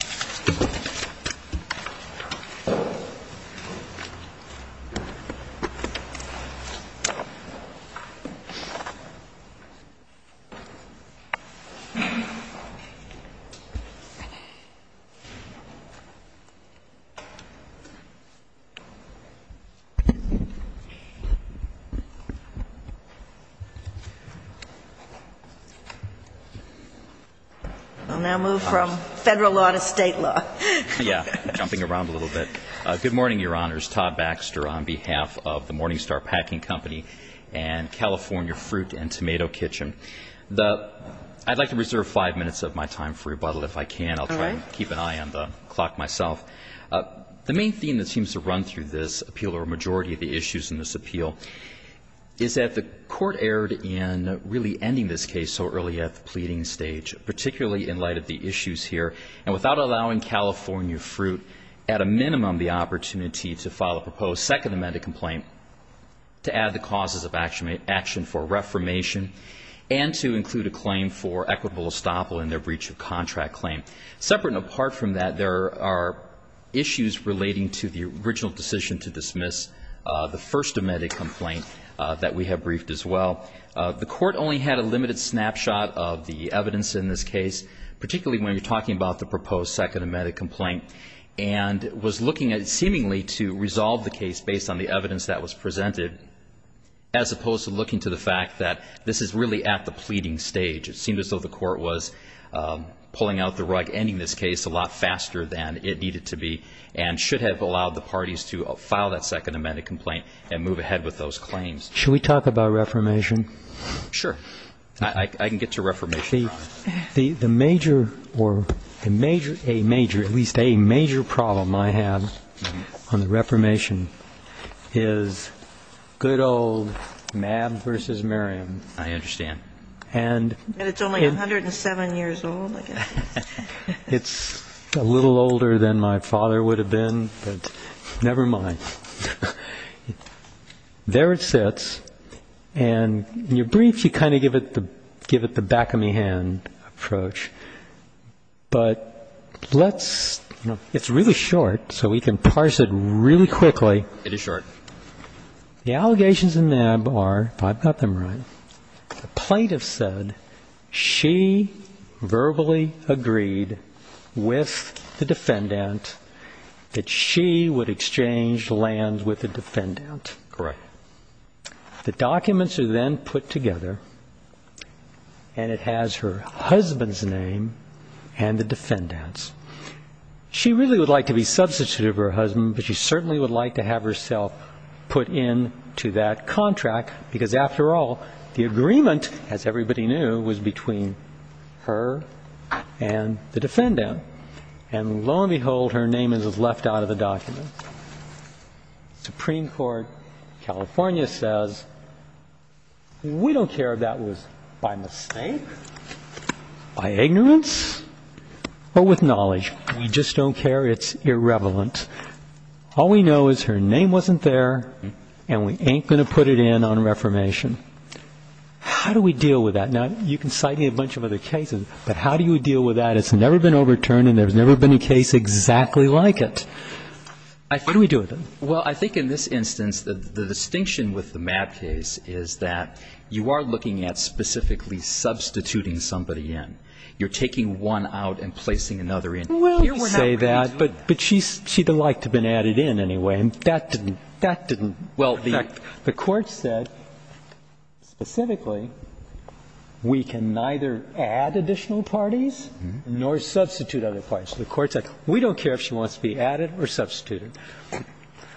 Star Packing v. Crown Cork & Seal Good morning, Your Honors. Todd Baxter on behalf of the Morning Star Packing Company and California Fruit and Tomato Kitchen. I'd like to reserve five minutes of my time for rebuttal if I can. I'll try to keep an eye on the clock myself. The main theme that seems to run through this appeal or a majority of the issues in this appeal is that the Court erred in really ending this case so early at the pleading stage, particularly in light of the issues here. And without allowing California Fruit at a minimum the opportunity to file a proposed second amended complaint to add the causes of action for reformation and to include a claim for equitable estoppel in their breach of contract claim. Separate and apart from that, there are issues relating to the original decision to dismiss the first amended complaint that we have briefed as well. The Court only had a limited snapshot of the evidence in this case, particularly when you're talking about the proposed second amended complaint, and was looking at seemingly to resolve the case based on the evidence that was presented as opposed to looking to the fact that this is really at the pleading stage. It seemed as though the Court was pulling out the rug, ending this case a lot faster than it needed to be and should have allowed the parties to file that second amended complaint and move ahead with those claims. Should we talk about reformation? Sure. I can get to reformation. The major or at least a major problem I have on the reformation is good old Mab versus Merriam. I understand. And it's only 107 years old. It's a little older than my father would have been, but never mind. There it sits. And in your brief, you kind of give it the back-of-my-hand approach. But let's – it's really short, so we can parse it really quickly. It is short. The allegations in Mab are, if I've got them right, the plaintiff said she verbally agreed with the defendant that she would exchange lands with the defendant. Correct. The documents are then put together, and it has her husband's name and the defendant's. She really would like to be substituted for her husband, but she certainly would like to have herself put into that contract, because, after all, the agreement, as everybody knew, was between her and the defendant. And lo and behold, her name is left out of the documents. Supreme Court California says, we don't care if that was by mistake, by ignorance, or with knowledge. We just don't care. It's irrevelant. All we know is her name wasn't there, and we ain't going to put it in on reformation. How do we deal with that? Now, you can cite a bunch of other cases, but how do you deal with that? It's never been overturned, and there's never been a case exactly like it. What do we do with it? Well, I think in this instance, the distinction with the Mab case is that you are looking at specifically substituting somebody in. You're taking one out and placing another in. Well, you could say that, but she'd have liked to have been added in anyway, and that didn't work. The Court said, specifically, we can neither add additional parties nor substitute other parties. The Court said, we don't care if she wants to be added or substituted.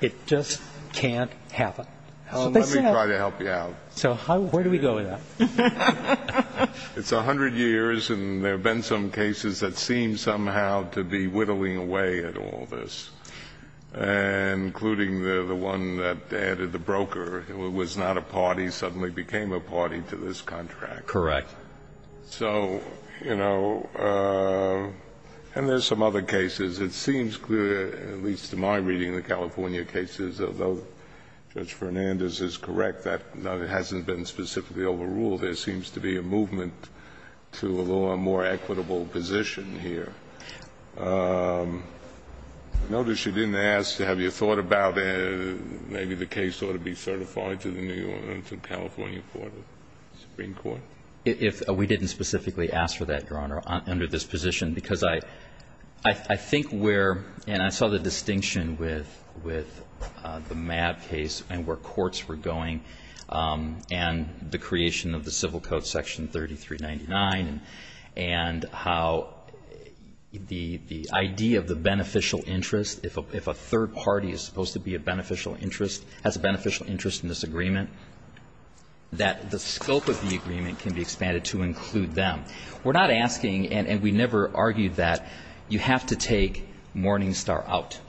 It just can't happen. That's what they said. Well, let me try to help you out. So where do we go with that? It's 100 years, and there have been some cases that seem somehow to be whittling away at all this, including the one that added the broker, who was not a party, suddenly became a party to this contract. Correct. So, you know, and there's some other cases. It seems clear, at least in my reading of the California cases, although Judge Sotomayor is not a lawyer, there seems to be a movement to a more equitable position here. I noticed you didn't ask, have you thought about maybe the case ought to be certified to the New York and California Supreme Court? We didn't specifically ask for that, Your Honor, under this position, because I think where, and I saw the distinction with the Mab case and where courts were going, and the creation of the Civil Code Section 3399, and how the idea of the beneficial interest, if a third party is supposed to be a beneficial interest, has a beneficial interest in this agreement, that the scope of the agreement can be expanded to include them. We're not asking, and we never argued that, you have to take Morningstar out,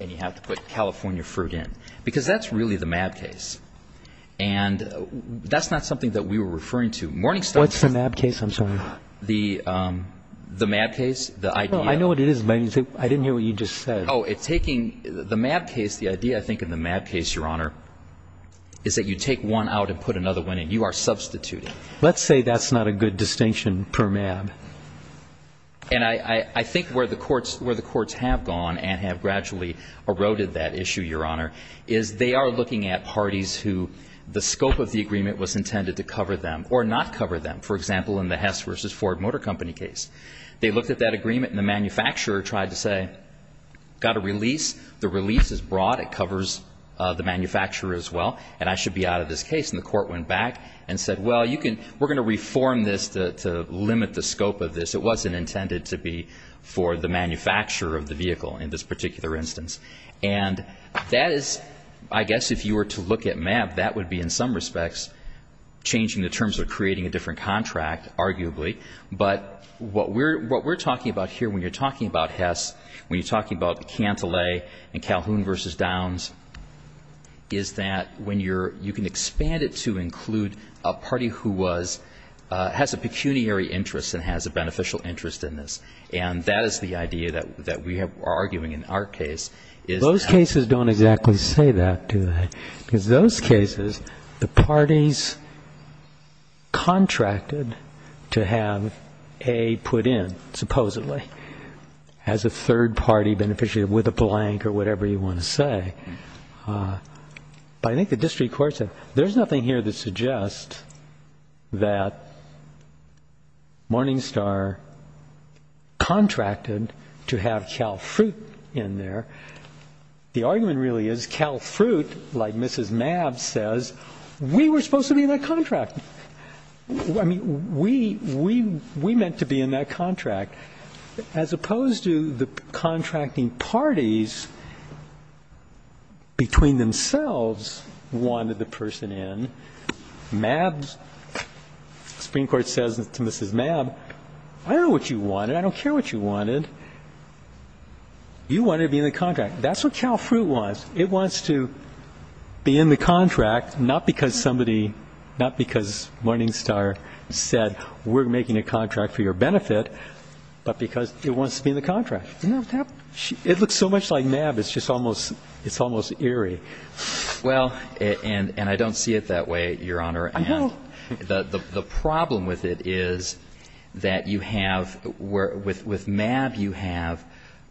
and you have to put California Fruit in, because that's really the Mab case. And that's not something that we were referring to. Morningstar was the Mab case. I'm sorry. The Mab case, the idea. Well, I know what it is, but I didn't hear what you just said. Oh, it's taking the Mab case, the idea, I think, in the Mab case, Your Honor, is that you take one out and put another one in. You are substituting. Let's say that's not a good distinction per Mab. And I think where the courts have gone and have gradually eroded that issue, Your Honor, is they are looking at parties who the scope of the agreement was intended to cover them or not cover them. For example, in the Hess v. Ford Motor Company case, they looked at that agreement and the manufacturer tried to say, got a release, the release is broad, it covers the manufacturer as well, and I should be out of this case. And the court went back and said, well, you can we're going to reform this to limit the scope of this. It wasn't intended to be for the manufacturer of the vehicle in this particular instance. And that is, I guess if you were to look at Mab, that would be in some respects changing the terms of creating a different contract, arguably. But what we're talking about here when you're talking about Hess, when you're talking about Cantillay and Calhoun v. Downs, is that when you're, you can expand it to include a party who was, has a pecuniary interest and has a beneficial interest in this. And that is the idea that we are arguing in our case. Those cases don't exactly say that, do they? Because those cases, the parties contracted to have A put in, supposedly, as a third party beneficiary with a blank or whatever you want to say. But I think the district court said, there's nothing here that suggests that Morning Star contracted to have Cal Fruit in there. The argument really is Cal Fruit, like Mrs. Mab says, we were supposed to be in that contract. I mean, we, we, we meant to be in that contract. As opposed to the contracting parties between themselves wanted the person in, Mab's, Supreme Court says to Mrs. Mab, I don't know what you wanted. I don't care what you wanted. You wanted to be in the contract. That's what Cal Fruit wants. It wants to be in the contract, not because somebody, not because Morning Star said, we're making a contract for your benefit, but because it wants to be in the contract. It looks so much like Mab, it's just almost, it's almost eerie. Well, and I don't see it that way, Your Honor. I know. The problem with it is that you have, with Mab, you have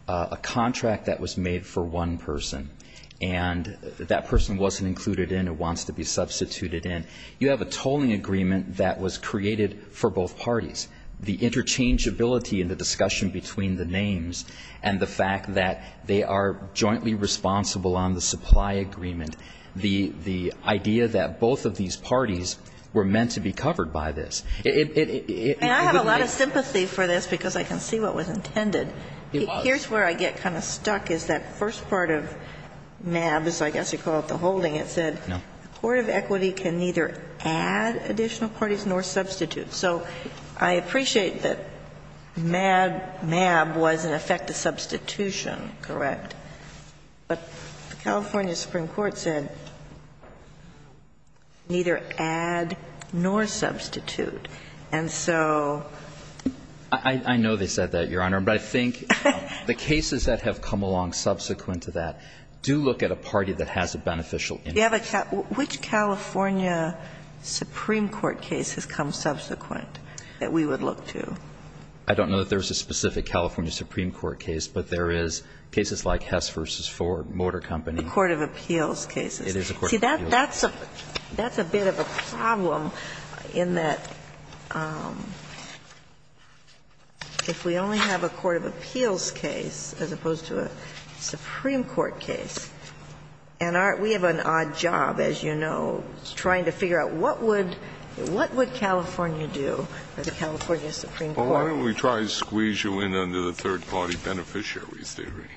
a contract that was made for one person. And that person wasn't included in and wants to be substituted in. You have a tolling agreement that was created for both parties. The interchangeability in the discussion between the names and the fact that they are jointly responsible on the supply agreement, the, the idea that both of these parties were meant to be covered by this. It, it, it, it would make. And I have a lot of sympathy for this because I can see what was intended. It was. Here's where I get kind of stuck is that first part of Mab's, I guess you call it the holding, it said. No. The court of equity can neither add additional parties nor substitute. So I appreciate that Mab, Mab was in effect a substitution, correct? But the California Supreme Court said neither add nor substitute. And so. I, I know they said that, Your Honor. But I think the cases that have come along subsequent to that do look at a party that has a beneficial interest. You have a, which California Supreme Court case has come subsequent that we would look to? I don't know that there's a specific California Supreme Court case, but there is cases like Hess v. Ford, Motor Company. The court of appeals cases. It is a court of appeals. See, that, that's a, that's a bit of a problem in that if we only have a court of appeals case as opposed to a Supreme Court case, and our, we have an odd job, as you know, trying to figure out what would, what would California do as a California Supreme Court? Well, why don't we try to squeeze you in under the third-party beneficiary theory?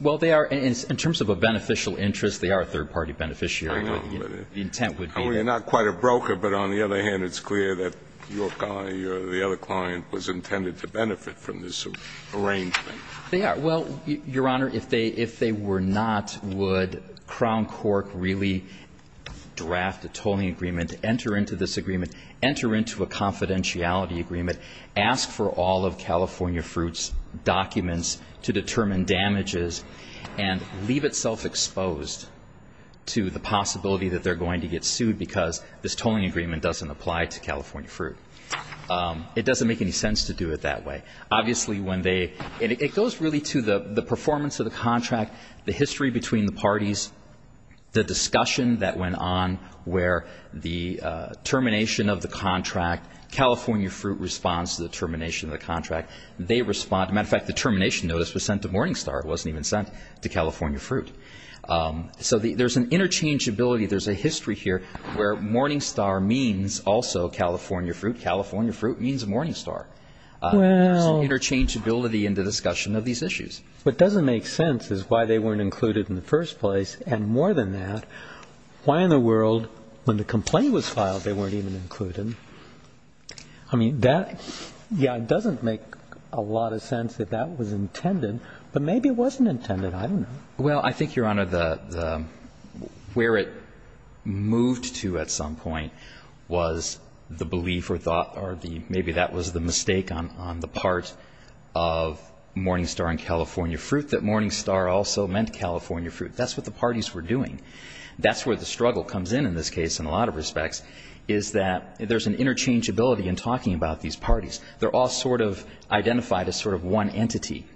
Well, they are, in terms of a beneficial interest, they are a third-party beneficiary. I know, but it's. The intent would be. I mean, they're not quite a broker, but on the other hand, it's clear that your client was intended to benefit from this arrangement. They are. Well, Your Honor, if they, if they were not, would Crown Cork really draft a tolling agreement, enter into this agreement, enter into a confidentiality agreement, ask for all of California Fruit's documents to determine damages, and leave itself exposed to the possibility that they're going to get sued because this tolling agreement doesn't apply to California Fruit? It doesn't make any sense to do it that way. Obviously, when they, and it goes really to the performance of the contract, the history between the parties, the discussion that went on where the termination of the contract, California Fruit responds to the termination of the contract. They respond. As a matter of fact, the termination notice was sent to Morningstar. It wasn't even sent to California Fruit. So there's an interchangeability, there's a history here where Morningstar means also California Fruit. California Fruit means Morningstar. Well. There's an interchangeability in the discussion of these issues. What doesn't make sense is why they weren't included in the first place. And more than that, why in the world, when the complaint was filed, they weren't even included? I mean, that, yeah, it doesn't make a lot of sense that that was intended. But maybe it wasn't intended. I don't know. Well, I think, Your Honor, where it moved to at some point was the belief or thought or maybe that was the mistake on the part of Morningstar and California Fruit, that Morningstar also meant California Fruit. That's what the parties were doing. That's where the struggle comes in, in this case, in a lot of respects, is that there's an interchangeability in talking about these parties. They're all sort of identified as sort of one entity.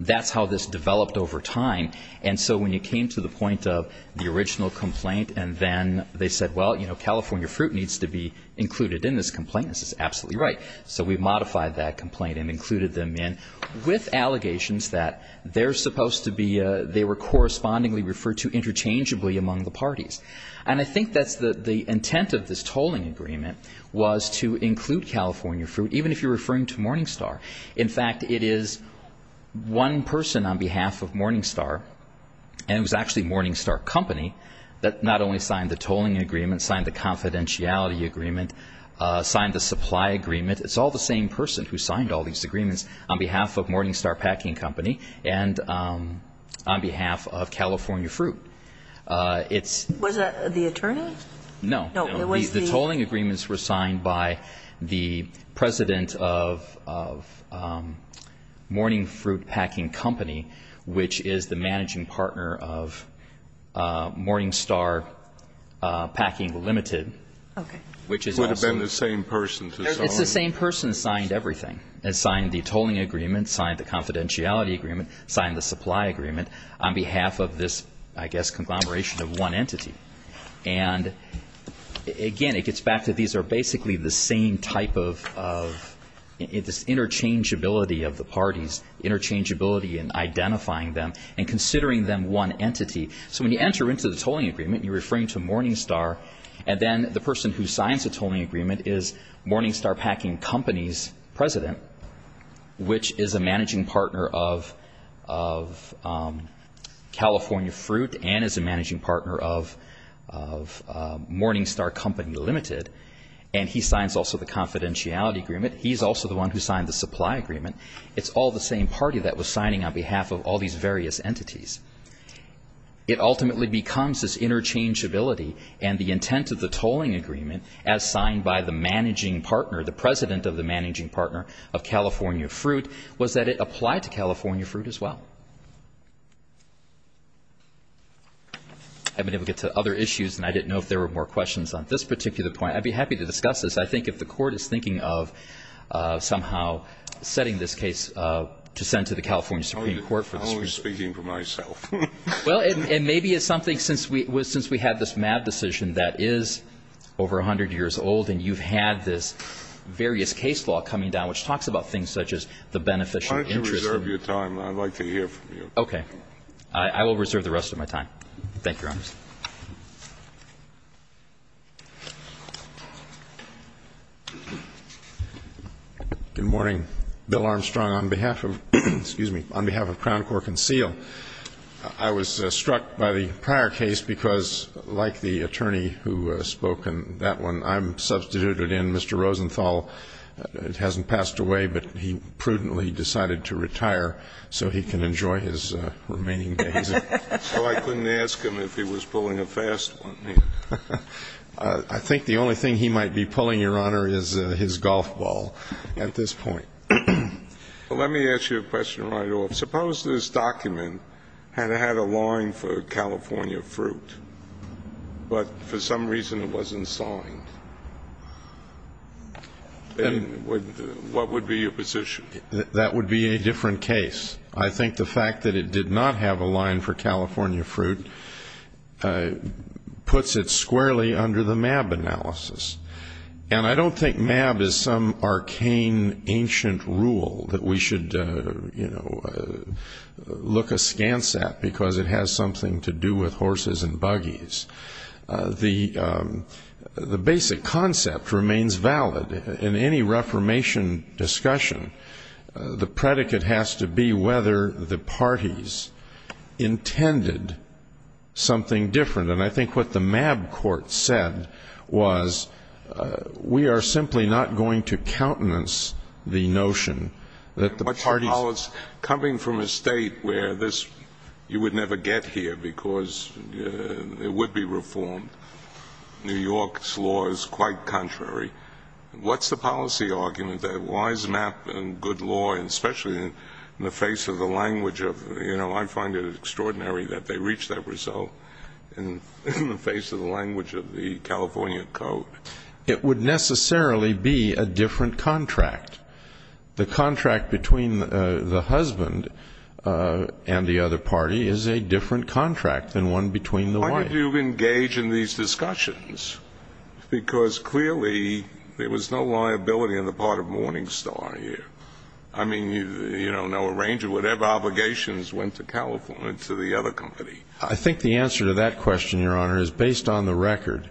That's how this developed over time. And so when you came to the point of the original complaint and then they said, well, you know, California Fruit needs to be included in this complaint, this is absolutely right. So we modified that complaint and included them in with allegations that they're supposed to be, they were correspondingly referred to interchangeably among the parties. And I think that's the intent of this tolling agreement was to include California Fruit, even if you're referring to Morningstar. In fact, it is one person on behalf of Morningstar, and it was actually Morningstar Company, that not only signed the tolling agreement, signed the confidentiality agreement, signed the supply agreement, it's all the same person who signed all these agreements on behalf of Morningstar Packing Company and on behalf of California Fruit. Was that the attorney? No. The tolling agreements were signed by the president of Morning Fruit Packing Company, which is the managing partner of Morningstar Packing Limited. Okay. It would have been the same person. It's the same person who signed everything, signed the tolling agreement, signed the confidentiality agreement, signed the supply agreement on behalf of this, I guess, conglomeration of one entity. And, again, it gets back to these are basically the same type of interchangeability of the parties, interchangeability in identifying them and considering them one entity. So when you enter into the tolling agreement, you're referring to Morningstar, and then the person who signs the tolling agreement is Morningstar Packing Company's president, which is a managing partner of California Fruit and is a president of Morningstar Company Limited, and he signs also the confidentiality agreement. He's also the one who signed the supply agreement. It's all the same party that was signing on behalf of all these various entities. It ultimately becomes this interchangeability and the intent of the tolling agreement, as signed by the managing partner, the president of the managing partner of California Fruit, was that it applied to California Fruit as well. I've been able to get to other issues, and I didn't know if there were more questions on this particular point. I'd be happy to discuss this. I think if the Court is thinking of somehow setting this case to send to the California Supreme Court for this reason. I'm only speaking for myself. Well, and maybe it's something, since we had this MAD decision that is over 100 years old, and you've had this various case law coming down, which talks about things such as the beneficiary interest. I reserve your time. I'd like to hear from you. Okay. I will reserve the rest of my time. Thank you, Your Honors. Good morning. Bill Armstrong on behalf of, excuse me, on behalf of Crown Cork and Seal. I was struck by the prior case because, like the attorney who spoke in that one, I'm substituted in. Mr. Rosenthal hasn't passed away, but he prudently decided to retire so he can enjoy his remaining days. So I couldn't ask him if he was pulling a fast one. I think the only thing he might be pulling, Your Honor, is his golf ball at this point. Let me ask you a question right off. Suppose this document had had a line for California fruit, but for some reason it wasn't signed. Then what would be your position? That would be a different case. I think the fact that it did not have a line for California fruit puts it squarely under the MAB analysis. And I don't think MAB is some arcane, ancient rule that we should, you know, look askance at because it has something to do with horses and buggies. The basic concept remains valid in any Reformation discussion. The predicate has to be whether the parties intended something different. And I think what the MAB court said was we are simply not going to countenance the notion that the parties ---- But, Your Honor, coming from a state where this you would never get here because it would be reformed. New York's law is quite contrary. What's the policy argument that why is MAB and good law, and especially in the face of the language of, you know, I find it extraordinary that they reach that result in the face of the language of the California code? It would necessarily be a different contract. The contract between the husband and the other party is a different contract than one between the wife. Why did you engage in these discussions? Because clearly there was no liability on the part of Morningstar here. I mean, you know, no arranger, whatever obligations went to California, to the other company. I think the answer to that question, Your Honor, is based on the record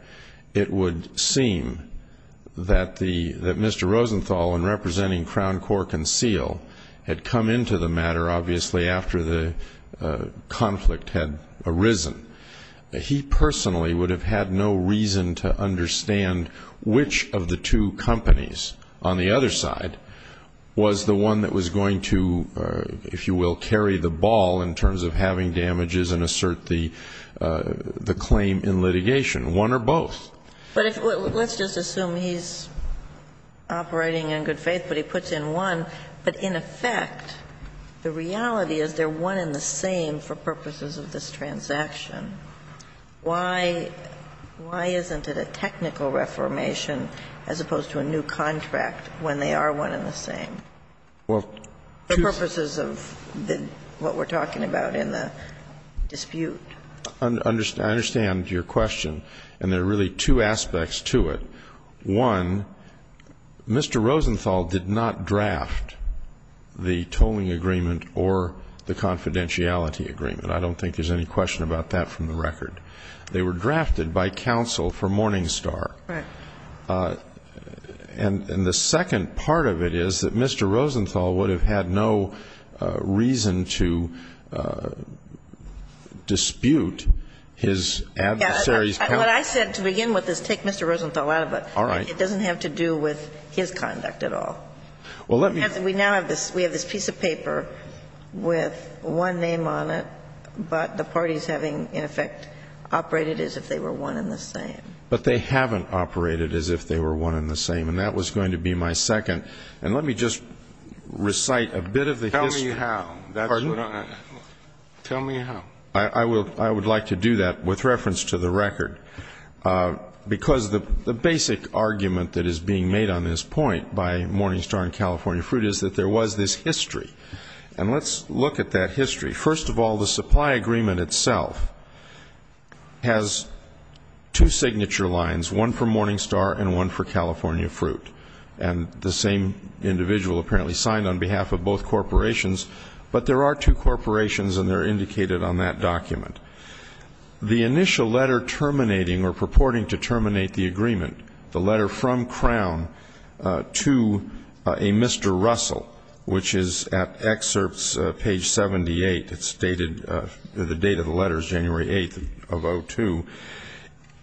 it would seem that Mr. Rosenthal in representing Crown Cork and Seal had come into the matter obviously after the conflict had arisen. He personally would have had no reason to understand which of the two companies on the other side was the one that was going to, if you will, carry the ball in terms of having damages and assert the claim in litigation, one or both. But let's just assume he's operating in good faith, but he puts in one, but in effect the reality is they're one and the same for purposes of this transaction. Why isn't it a technical reformation as opposed to a new contract when they are one and the same for purposes of what we're talking about in the dispute? I understand your question, and there are really two aspects to it. One, Mr. Rosenthal did not draft the tolling agreement or the confidentiality agreement. I don't think there's any question about that from the record. They were drafted by counsel for Morningstar. And the second part of it is that Mr. Rosenthal would have had no reason to dispute his adversary's counsel. What I said to begin with is take Mr. Rosenthal out of it. All right. It doesn't have to do with his conduct at all. Well, let me. We now have this. We have this piece of paper with one name on it, but the parties having, in effect, operated as if they were one and the same. But they haven't operated as if they were one and the same. And that was going to be my second. And let me just recite a bit of the history. Tell me how. Pardon? Tell me how. I would like to do that with reference to the record, because the basic argument that is being made on this point by Morningstar and California Fruit is that there was this history. And let's look at that history. First of all, the supply agreement itself has two signature lines, one for Morningstar and one for California Fruit. And the same individual apparently signed on behalf of both corporations. But there are two corporations, and they're indicated on that document. The initial letter terminating or purporting to terminate the agreement, the letter from Crown to a Mr. Russell, which is at excerpts page 78. It's dated, the date of the letter is January 8th of 2002.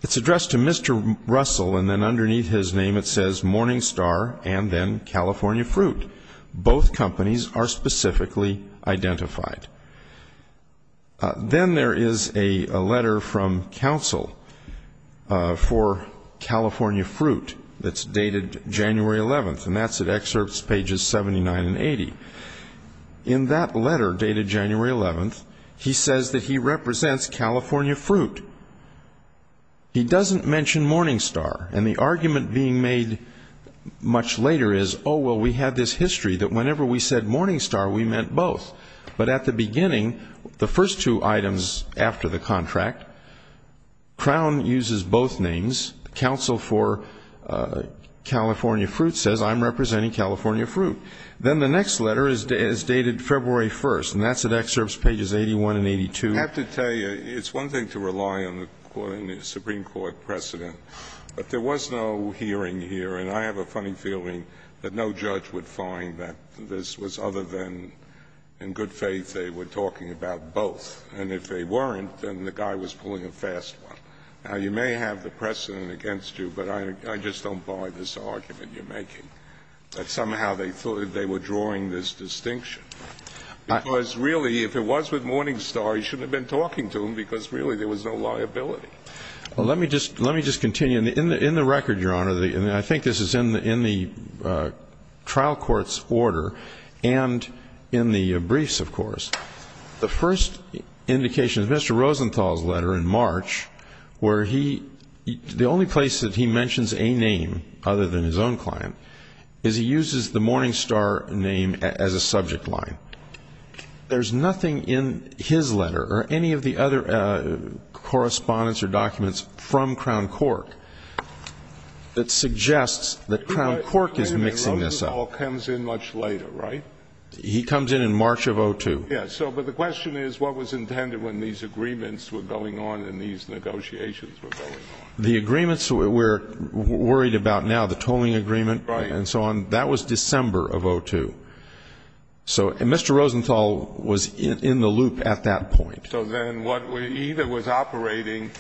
It's addressed to Mr. Russell, and then underneath his name it says, Morningstar and then California Fruit. Both companies are specifically identified. Then there is a letter from counsel for California Fruit that's dated January 11th, and that's at excerpts pages 79 and 80. In that letter dated January 11th, he says that he represents California Fruit. He doesn't mention Morningstar. And the argument being made much later is, oh, well, we had this history that whenever we said Morningstar, we meant both. But at the beginning, the first two items after the contract, Crown uses both names. Counsel for California Fruit says, I'm representing California Fruit. Then the next letter is dated February 1st, and that's at excerpts pages 81 and 82. I have to tell you, it's one thing to rely on the Supreme Court precedent, but there was no hearing here. And I have a funny feeling that no judge would find that this was other than, in good faith, they were talking about both. And if they weren't, then the guy was pulling a fast one. Now, you may have the precedent against you, but I just don't buy this argument you're making, that somehow they thought they were drawing this distinction. Because really, if it was with Morningstar, you shouldn't have been talking to him because really there was no liability. Well, let me just continue. In the record, Your Honor, and I think this is in the trial court's order and in the briefs, of course, the first indication is Mr. Rosenthal's letter in March where the only place that he mentions a name other than his own client is he uses the Morningstar name as a subject line. There's nothing in his letter or any of the other correspondence or documents from Crown Cork that suggests that Crown Cork is mixing this up. Wait a minute. Rosenthal comes in much later, right? He comes in in March of 2002. Yes. But the question is what was intended when these agreements were going on and these negotiations were going on. The agreements we're worried about now, the tolling agreement and so on, that was December of 2002. So Mr. Rosenthal was in the loop at that point. So then what we either was operating,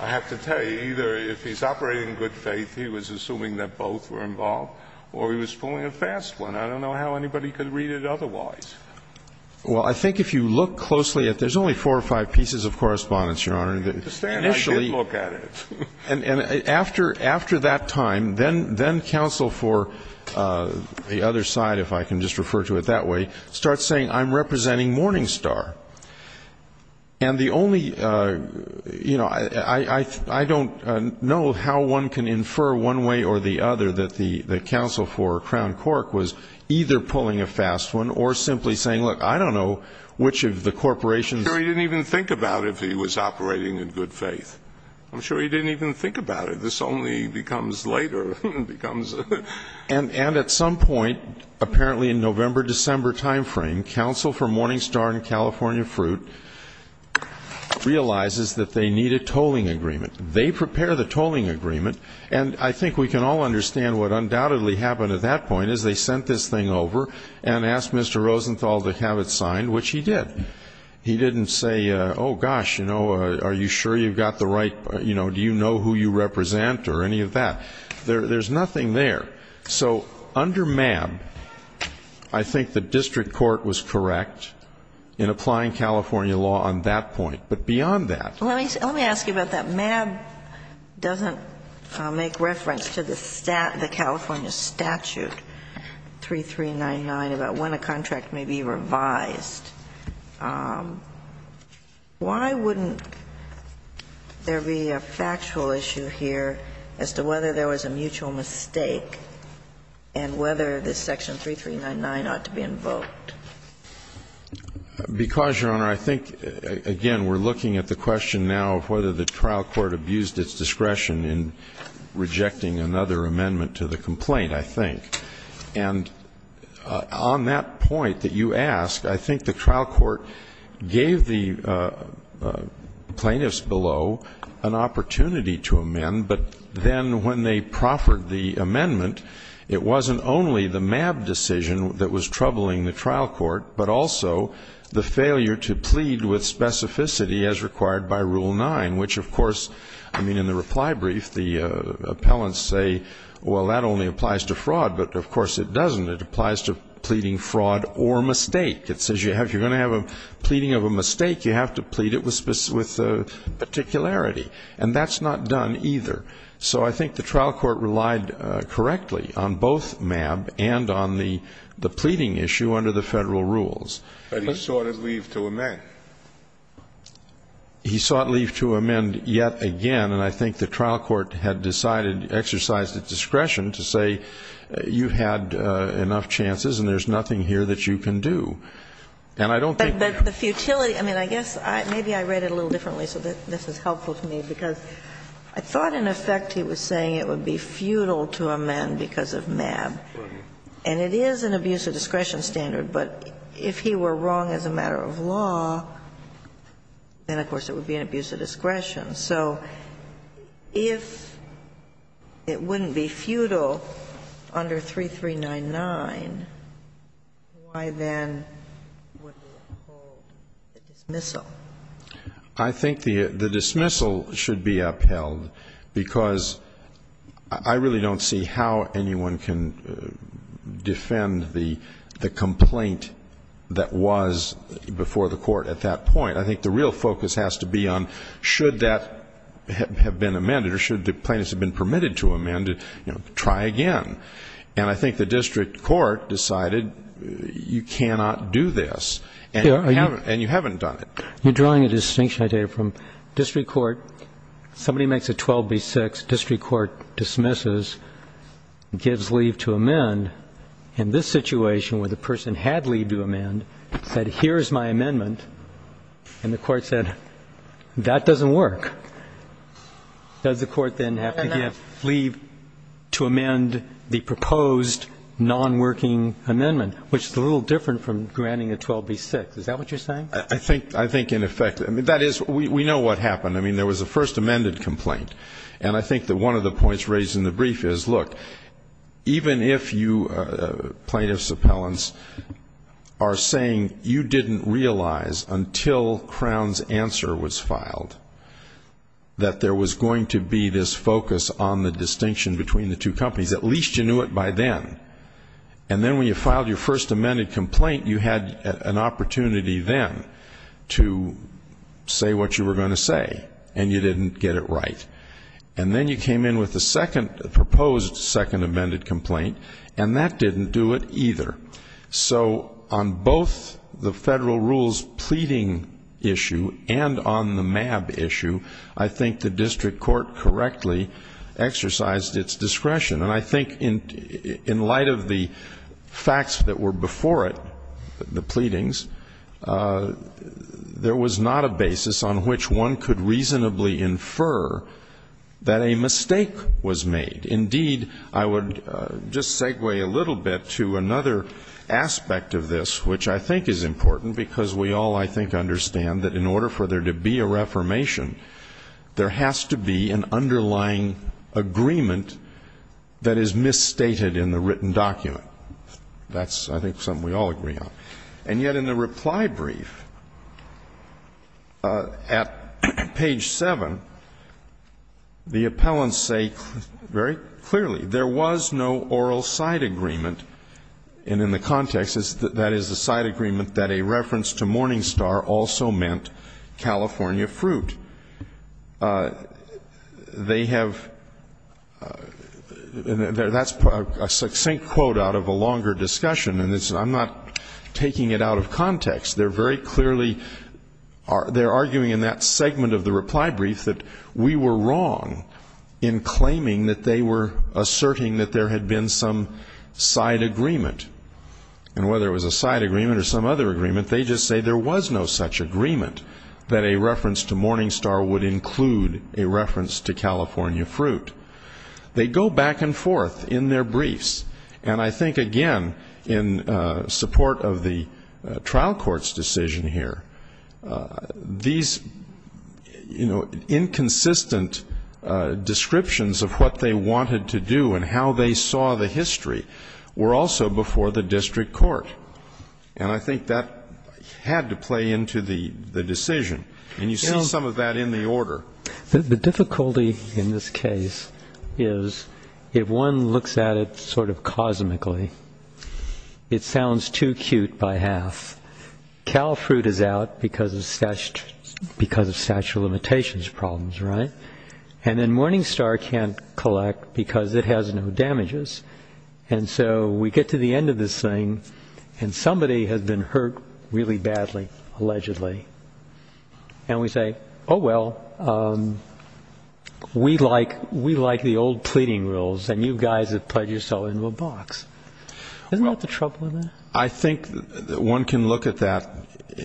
I have to tell you, either if he's operating in good faith, he was assuming that both were involved, or he was pulling a fast one. I don't know how anybody could read it otherwise. Well, I think if you look closely at it, there's only four or five pieces of correspondence, Your Honor. And I did look at it. And after that time, then counsel for the other side, if I can just refer to it that way, starts saying I'm representing Morningstar. And the only, you know, I don't know how one can infer one way or the other that the counsel for Crown Cork was either pulling a fast one or simply saying, look, I don't know which of the corporations. I'm sure he didn't even think about it if he was operating in good faith. I'm sure he didn't even think about it. This only becomes later. And at some point, apparently in November, December timeframe, counsel for Morningstar and California Fruit realizes that they need a tolling agreement. They prepare the tolling agreement. And I think we can all understand what undoubtedly happened at that point, is they sent this thing over and asked Mr. Rosenthal to have it signed, which he did. He didn't say, oh, gosh, you know, are you sure you've got the right, you know, do you know who you represent or any of that? There's nothing there. So under MAB, I think the district court was correct in applying California law on that point. But beyond that ---- Let me ask you about that. MAB doesn't make reference to the California statute 3399 about when a contract may be revised. Why wouldn't there be a factual issue here as to whether there was a mutual mistake and whether this section 3399 ought to be invoked? Because, Your Honor, I think, again, we're looking at the question now of whether the trial court abused its discretion in rejecting another amendment to the complaint, I think. And on that point that you ask, I think the trial court gave the plaintiffs below an opportunity to amend. But then when they proffered the amendment, it wasn't only the MAB decision that was troubling the trial court, but also the failure to plead with specificity as required by Rule 9, which, of course, I mean, in the reply brief the appellants say, well, that only applies to fraud, but, of course, it doesn't. It applies to pleading fraud or mistake. It says if you're going to have a pleading of a mistake, you have to plead it with particularity. And that's not done either. So I think the trial court relied correctly on both MAB and on the pleading issue under the Federal rules. But he sought a leave to amend. He sought leave to amend yet again. And I think the trial court had decided, exercised its discretion to say you had enough chances and there's nothing here that you can do. And I don't think that's the case. But the futility, I mean, I guess maybe I read it a little differently so that this is helpful to me, because I thought in effect he was saying it would be futile to amend because of MAB. And it is an abuse of discretion standard. But if he were wrong as a matter of law, then, of course, it would be an abuse of discretion. So if it wouldn't be futile under 3399, why then would we uphold the dismissal? I think the dismissal should be upheld because I really don't see how anyone can defend the complaint that was before the Court at that point. I think the real focus has to be on should that have been amended or should the plaintiffs have been permitted to amend, try again. And I think the district court decided you cannot do this. And you haven't done it. You're drawing a distinction, I take it, from district court. Somebody makes a 12B6, district court dismisses, gives leave to amend. In this situation where the person had leave to amend, said here's my amendment, and the court said that doesn't work, does the court then have to give leave to amend the proposed nonworking amendment, which is a little different from granting a 12B6. Is that what you're saying? I think in effect. I mean, that is we know what happened. I mean, there was a first amended complaint. And I think that one of the points raised in the brief is, look, even if you, plaintiffs, appellants, are saying you didn't realize until Crown's answer was filed that there was going to be this focus on the distinction between the two companies, at least you knew it by then. And then when you filed your first amended complaint, you had an opportunity then to say what you were going to say, and you didn't get it right. And then you came in with a second, a proposed second amended complaint, and that didn't do it either. So on both the federal rules pleading issue and on the MAB issue, I think the district court correctly exercised its discretion. And I think in light of the facts that were before it, the pleadings, there was not a basis on which one could reasonably infer that a mistake was made. Indeed, I would just segue a little bit to another aspect of this, which I think is important, because we all, I think, understand that in order for there to be a reformation, there has to be an underlying agreement that is misstated in the written document. That's, I think, something we all agree on. And yet in the reply brief at page 7, the appellants say very clearly, there was no oral side agreement, and in the context, that is, the side agreement that a reference to Morningstar also meant California Fruit. They have, that's a succinct quote out of a longer discussion, and I'm not taking it out of context. They're very clearly, they're arguing in that segment of the reply brief that we were wrong in claiming that they were asserting that there had been some side agreement. And whether it was a side agreement or some other agreement, they just say there was no such agreement that a reference to Morningstar would include a reference to California Fruit. They go back and forth in their briefs. And I think, again, in support of the trial court's decision here, these, you know, inconsistent descriptions of what they wanted to do and how they saw the history were also before the district court. And I think that had to play into the decision. And you see some of that in the order. The difficulty in this case is if one looks at it sort of cosmically, it sounds too cute by half. Cal Fruit is out because of statute of limitations problems, right? And then Morningstar can't collect because it has no damages. And so we get to the end of this thing, and somebody has been hurt really badly, allegedly. And we say, oh, well, we like the old pleading rules, and you guys have put yourself into a box. Isn't that the trouble with that? I think that one can look at that,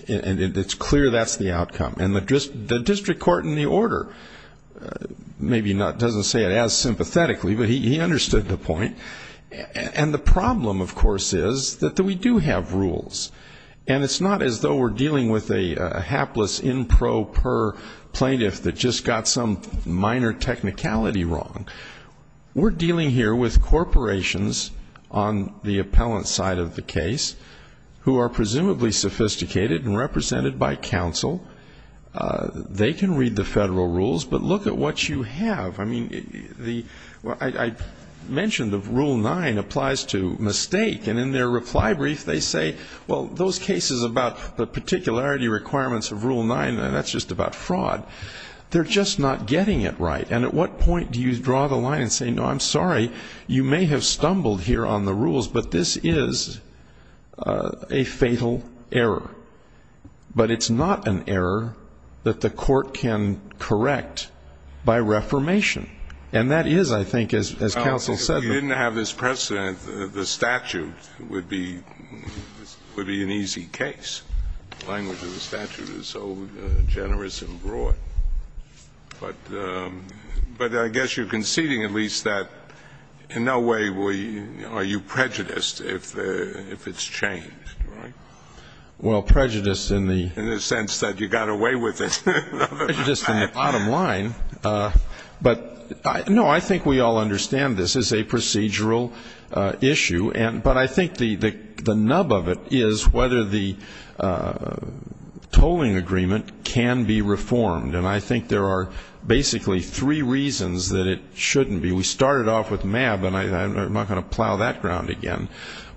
and it's clear that's the outcome. And the district court in the order maybe doesn't say it as sympathetically, but he understood the point. And the problem, of course, is that we do have rules. And it's not as though we're dealing with a hapless in pro per plaintiff that just got some minor technicality wrong. We're dealing here with corporations on the appellant side of the case who are presumably sophisticated and represented by counsel. They can read the federal rules, but look at what you have. I mean, I mentioned that Rule 9 applies to mistake. And in their reply brief, they say, well, those cases about the particularity requirements of Rule 9, that's just about fraud. They're just not getting it right. And at what point do you draw the line and say, no, I'm sorry, you may have stumbled here on the rules, but this is a fatal error. But it's not an error that the court can correct by reformation. And that is, I think, as counsel said. If you didn't have this precedent, the statute would be an easy case. The language of the statute is so generous and broad. But I guess you're conceding at least that in no way are you prejudiced if it's changed, right? Well, prejudiced in the sense that you got away with it. Prejudiced in the bottom line. But, no, I think we all understand this is a procedural issue. But I think the nub of it is whether the tolling agreement can be reformed. And I think there are basically three reasons that it shouldn't be. We started off with MAB, and I'm not going to plow that ground again.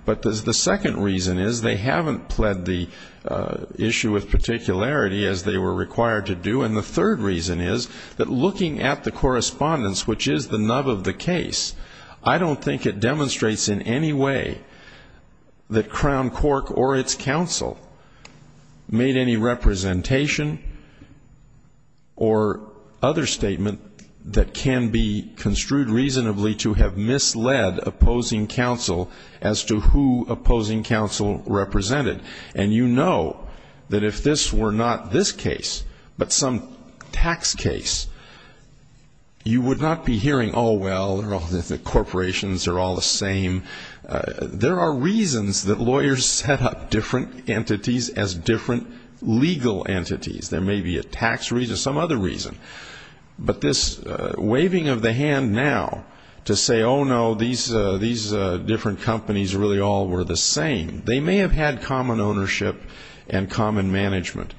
But the second reason is they haven't pled the issue with particularity as they were required to do. And the third reason is that looking at the correspondence, which is the nub of the case, I don't think it demonstrates in any way that Crown Cork or its counsel made any representation or other statement that can be construed reasonably to have misled opposing counsel as to who opposing counsel represented. And you know that if this were not this case but some tax case, you would not be hearing, oh, well, the corporations are all the same. There are reasons that lawyers set up different entities as different legal entities. There may be a tax reason, some other reason. But this waving of the hand now to say, oh, no, these different companies really all were the same, they may have had common ownership and common management,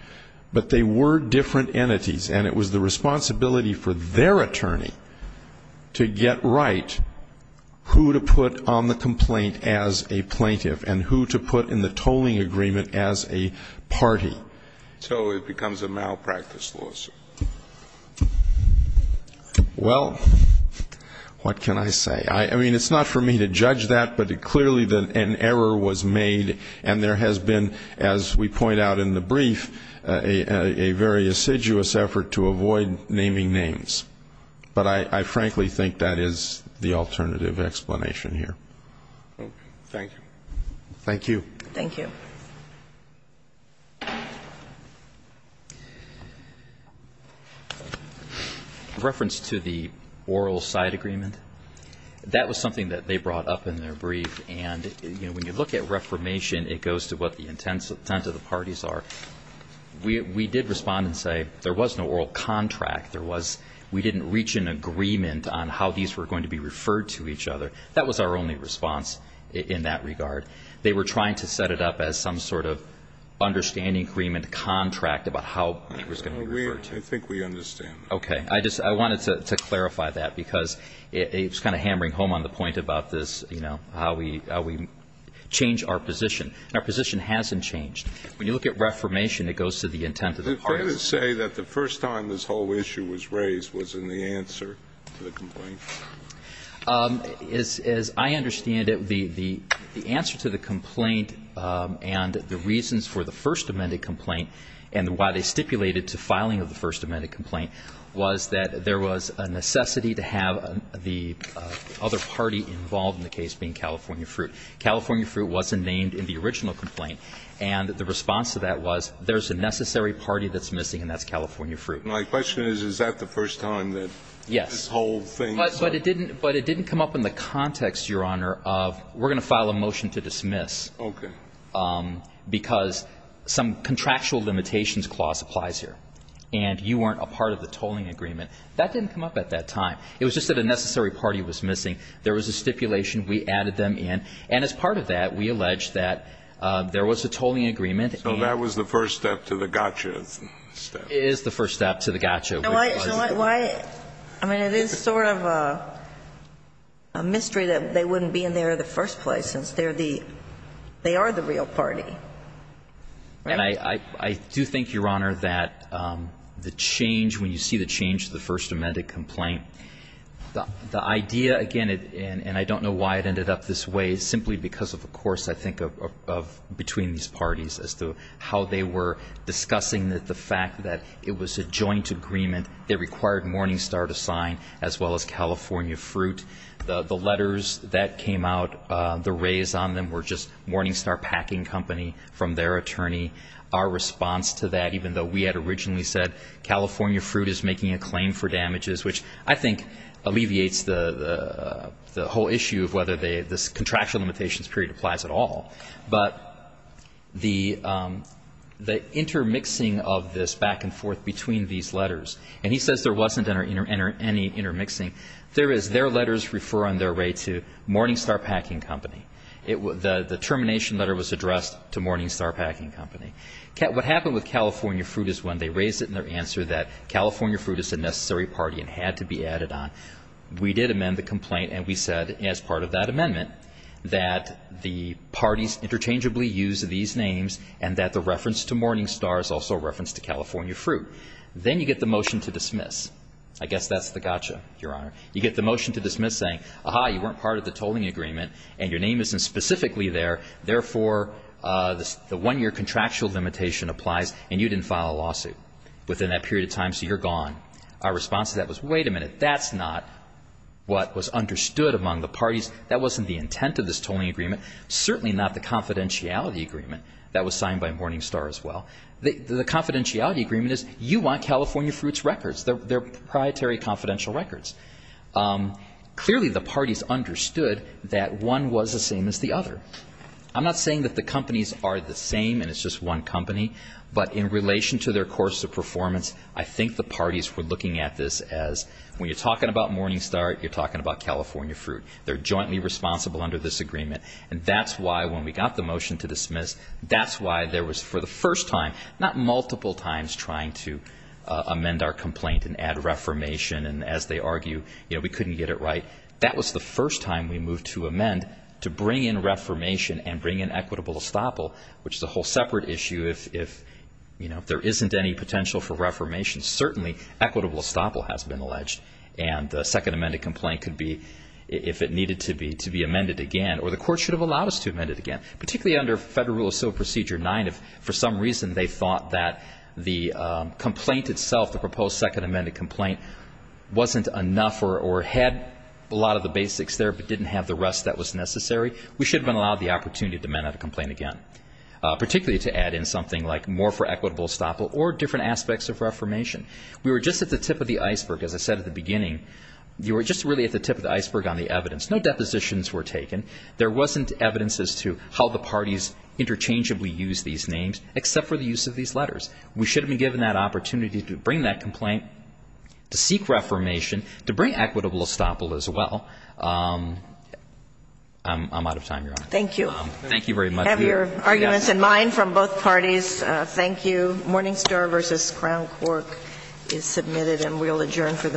but they were different entities. And it was the responsibility for their attorney to get right who to put on the complaint as a plaintiff and who to put in the tolling agreement as a party. So it becomes a malpractice lawsuit. Well, what can I say? I mean, it's not for me to judge that, but clearly an error was made and there has been, as we point out in the brief, a very assiduous effort to avoid naming names. But I frankly think that is the alternative explanation here. Thank you. Thank you. Thank you. Reference to the oral side agreement. That was something that they brought up in their brief. And, you know, when you look at reformation, it goes to what the intent of the parties are. We did respond and say there was no oral contract. There was we didn't reach an agreement on how these were going to be referred to each other. That was our only response in that regard. But they were trying to set it up as some sort of understanding agreement contract about how it was going to be referred to. I think we understand that. Okay. I just wanted to clarify that because it's kind of hammering home on the point about this, you know, how we change our position. Our position hasn't changed. When you look at reformation, it goes to the intent of the parties. Is it fair to say that the first time this whole issue was raised was in the answer to the complaint? As I understand it, the answer to the complaint and the reasons for the first amended complaint and why they stipulated to filing of the first amended complaint was that there was a necessity to have the other party involved in the case being California Fruit. California Fruit wasn't named in the original complaint. And the response to that was there's a necessary party that's missing, and that's California Fruit. But it didn't come up in the context, Your Honor, of we're going to file a motion to dismiss. Okay. Because some contractual limitations clause applies here. And you weren't a part of the tolling agreement. That didn't come up at that time. It was just that a necessary party was missing. There was a stipulation. We added them in. And as part of that, we alleged that there was a tolling agreement. So that was the first step to the gotcha step. It is the first step to the gotcha. I mean, it is sort of a mystery that they wouldn't be in there in the first place since they're the they are the real party. And I do think, Your Honor, that the change, when you see the change to the first amended complaint, the idea, again, and I don't know why it ended up this way, simply because, of course, I think of between these parties as to how they were discussing the fact that it was a joint agreement that required Morningstar to sign as well as California Fruit. The letters that came out, the raise on them were just Morningstar Packing Company from their attorney. Our response to that, even though we had originally said California Fruit is making a claim for damages, which I think alleviates the whole issue of whether this contractual limitations period applies at all. But the intermixing of this back and forth between these letters, and he says there wasn't any intermixing, there is. Their letters refer on their way to Morningstar Packing Company. The termination letter was addressed to Morningstar Packing Company. What happened with California Fruit is when they raised it in their answer that California Fruit is a necessary party and had to be added on. We did amend the complaint and we said as part of that amendment that the parties interchangeably use these names and that the reference to Morningstar is also a reference to California Fruit. Then you get the motion to dismiss. I guess that's the gotcha, Your Honor. You get the motion to dismiss saying, aha, you weren't part of the tolling agreement and your name isn't specifically there, therefore the one-year contractual limitation applies and you didn't file a lawsuit within that period of time, so you're gone. Our response to that was, wait a minute, that's not what was understood among the parties. That wasn't the intent of this tolling agreement. Certainly not the confidentiality agreement that was signed by Morningstar as well. The confidentiality agreement is you want California Fruit's records. They're proprietary confidential records. Clearly the parties understood that one was the same as the other. I'm not saying that the companies are the same and it's just one company, but in essence, we're looking at this as when you're talking about Morningstar, you're talking about California Fruit. They're jointly responsible under this agreement, and that's why when we got the motion to dismiss, that's why there was, for the first time, not multiple times trying to amend our complaint and add reformation, and as they argue, we couldn't get it right. That was the first time we moved to amend to bring in reformation and bring in equitable estoppel, which is a whole separate issue if there isn't any potential for reformation. Certainly equitable estoppel has been alleged, and the second amended complaint could be, if it needed to be, to be amended again, or the court should have allowed us to amend it again. Particularly under Federal Rule of Civil Procedure 9, if for some reason they thought that the complaint itself, the proposed second amended complaint, wasn't enough or had a lot of the basics there but didn't have the rest that was necessary, we should have been allowed the opportunity to amend that complaint again, particularly to add in something like more for equitable estoppel or different aspects of reformation. We were just at the tip of the iceberg, as I said at the beginning. We were just really at the tip of the iceberg on the evidence. No depositions were taken. There wasn't evidence as to how the parties interchangeably used these names except for the use of these letters. We should have been given that opportunity to bring that complaint, to seek reformation, to bring equitable estoppel as well. I'm out of time, Your Honor. Thank you. Thank you very much. We have your arguments in mind from both parties. Thank you. Morningstar v. Crown Cork is submitted and we will adjourn for the morning.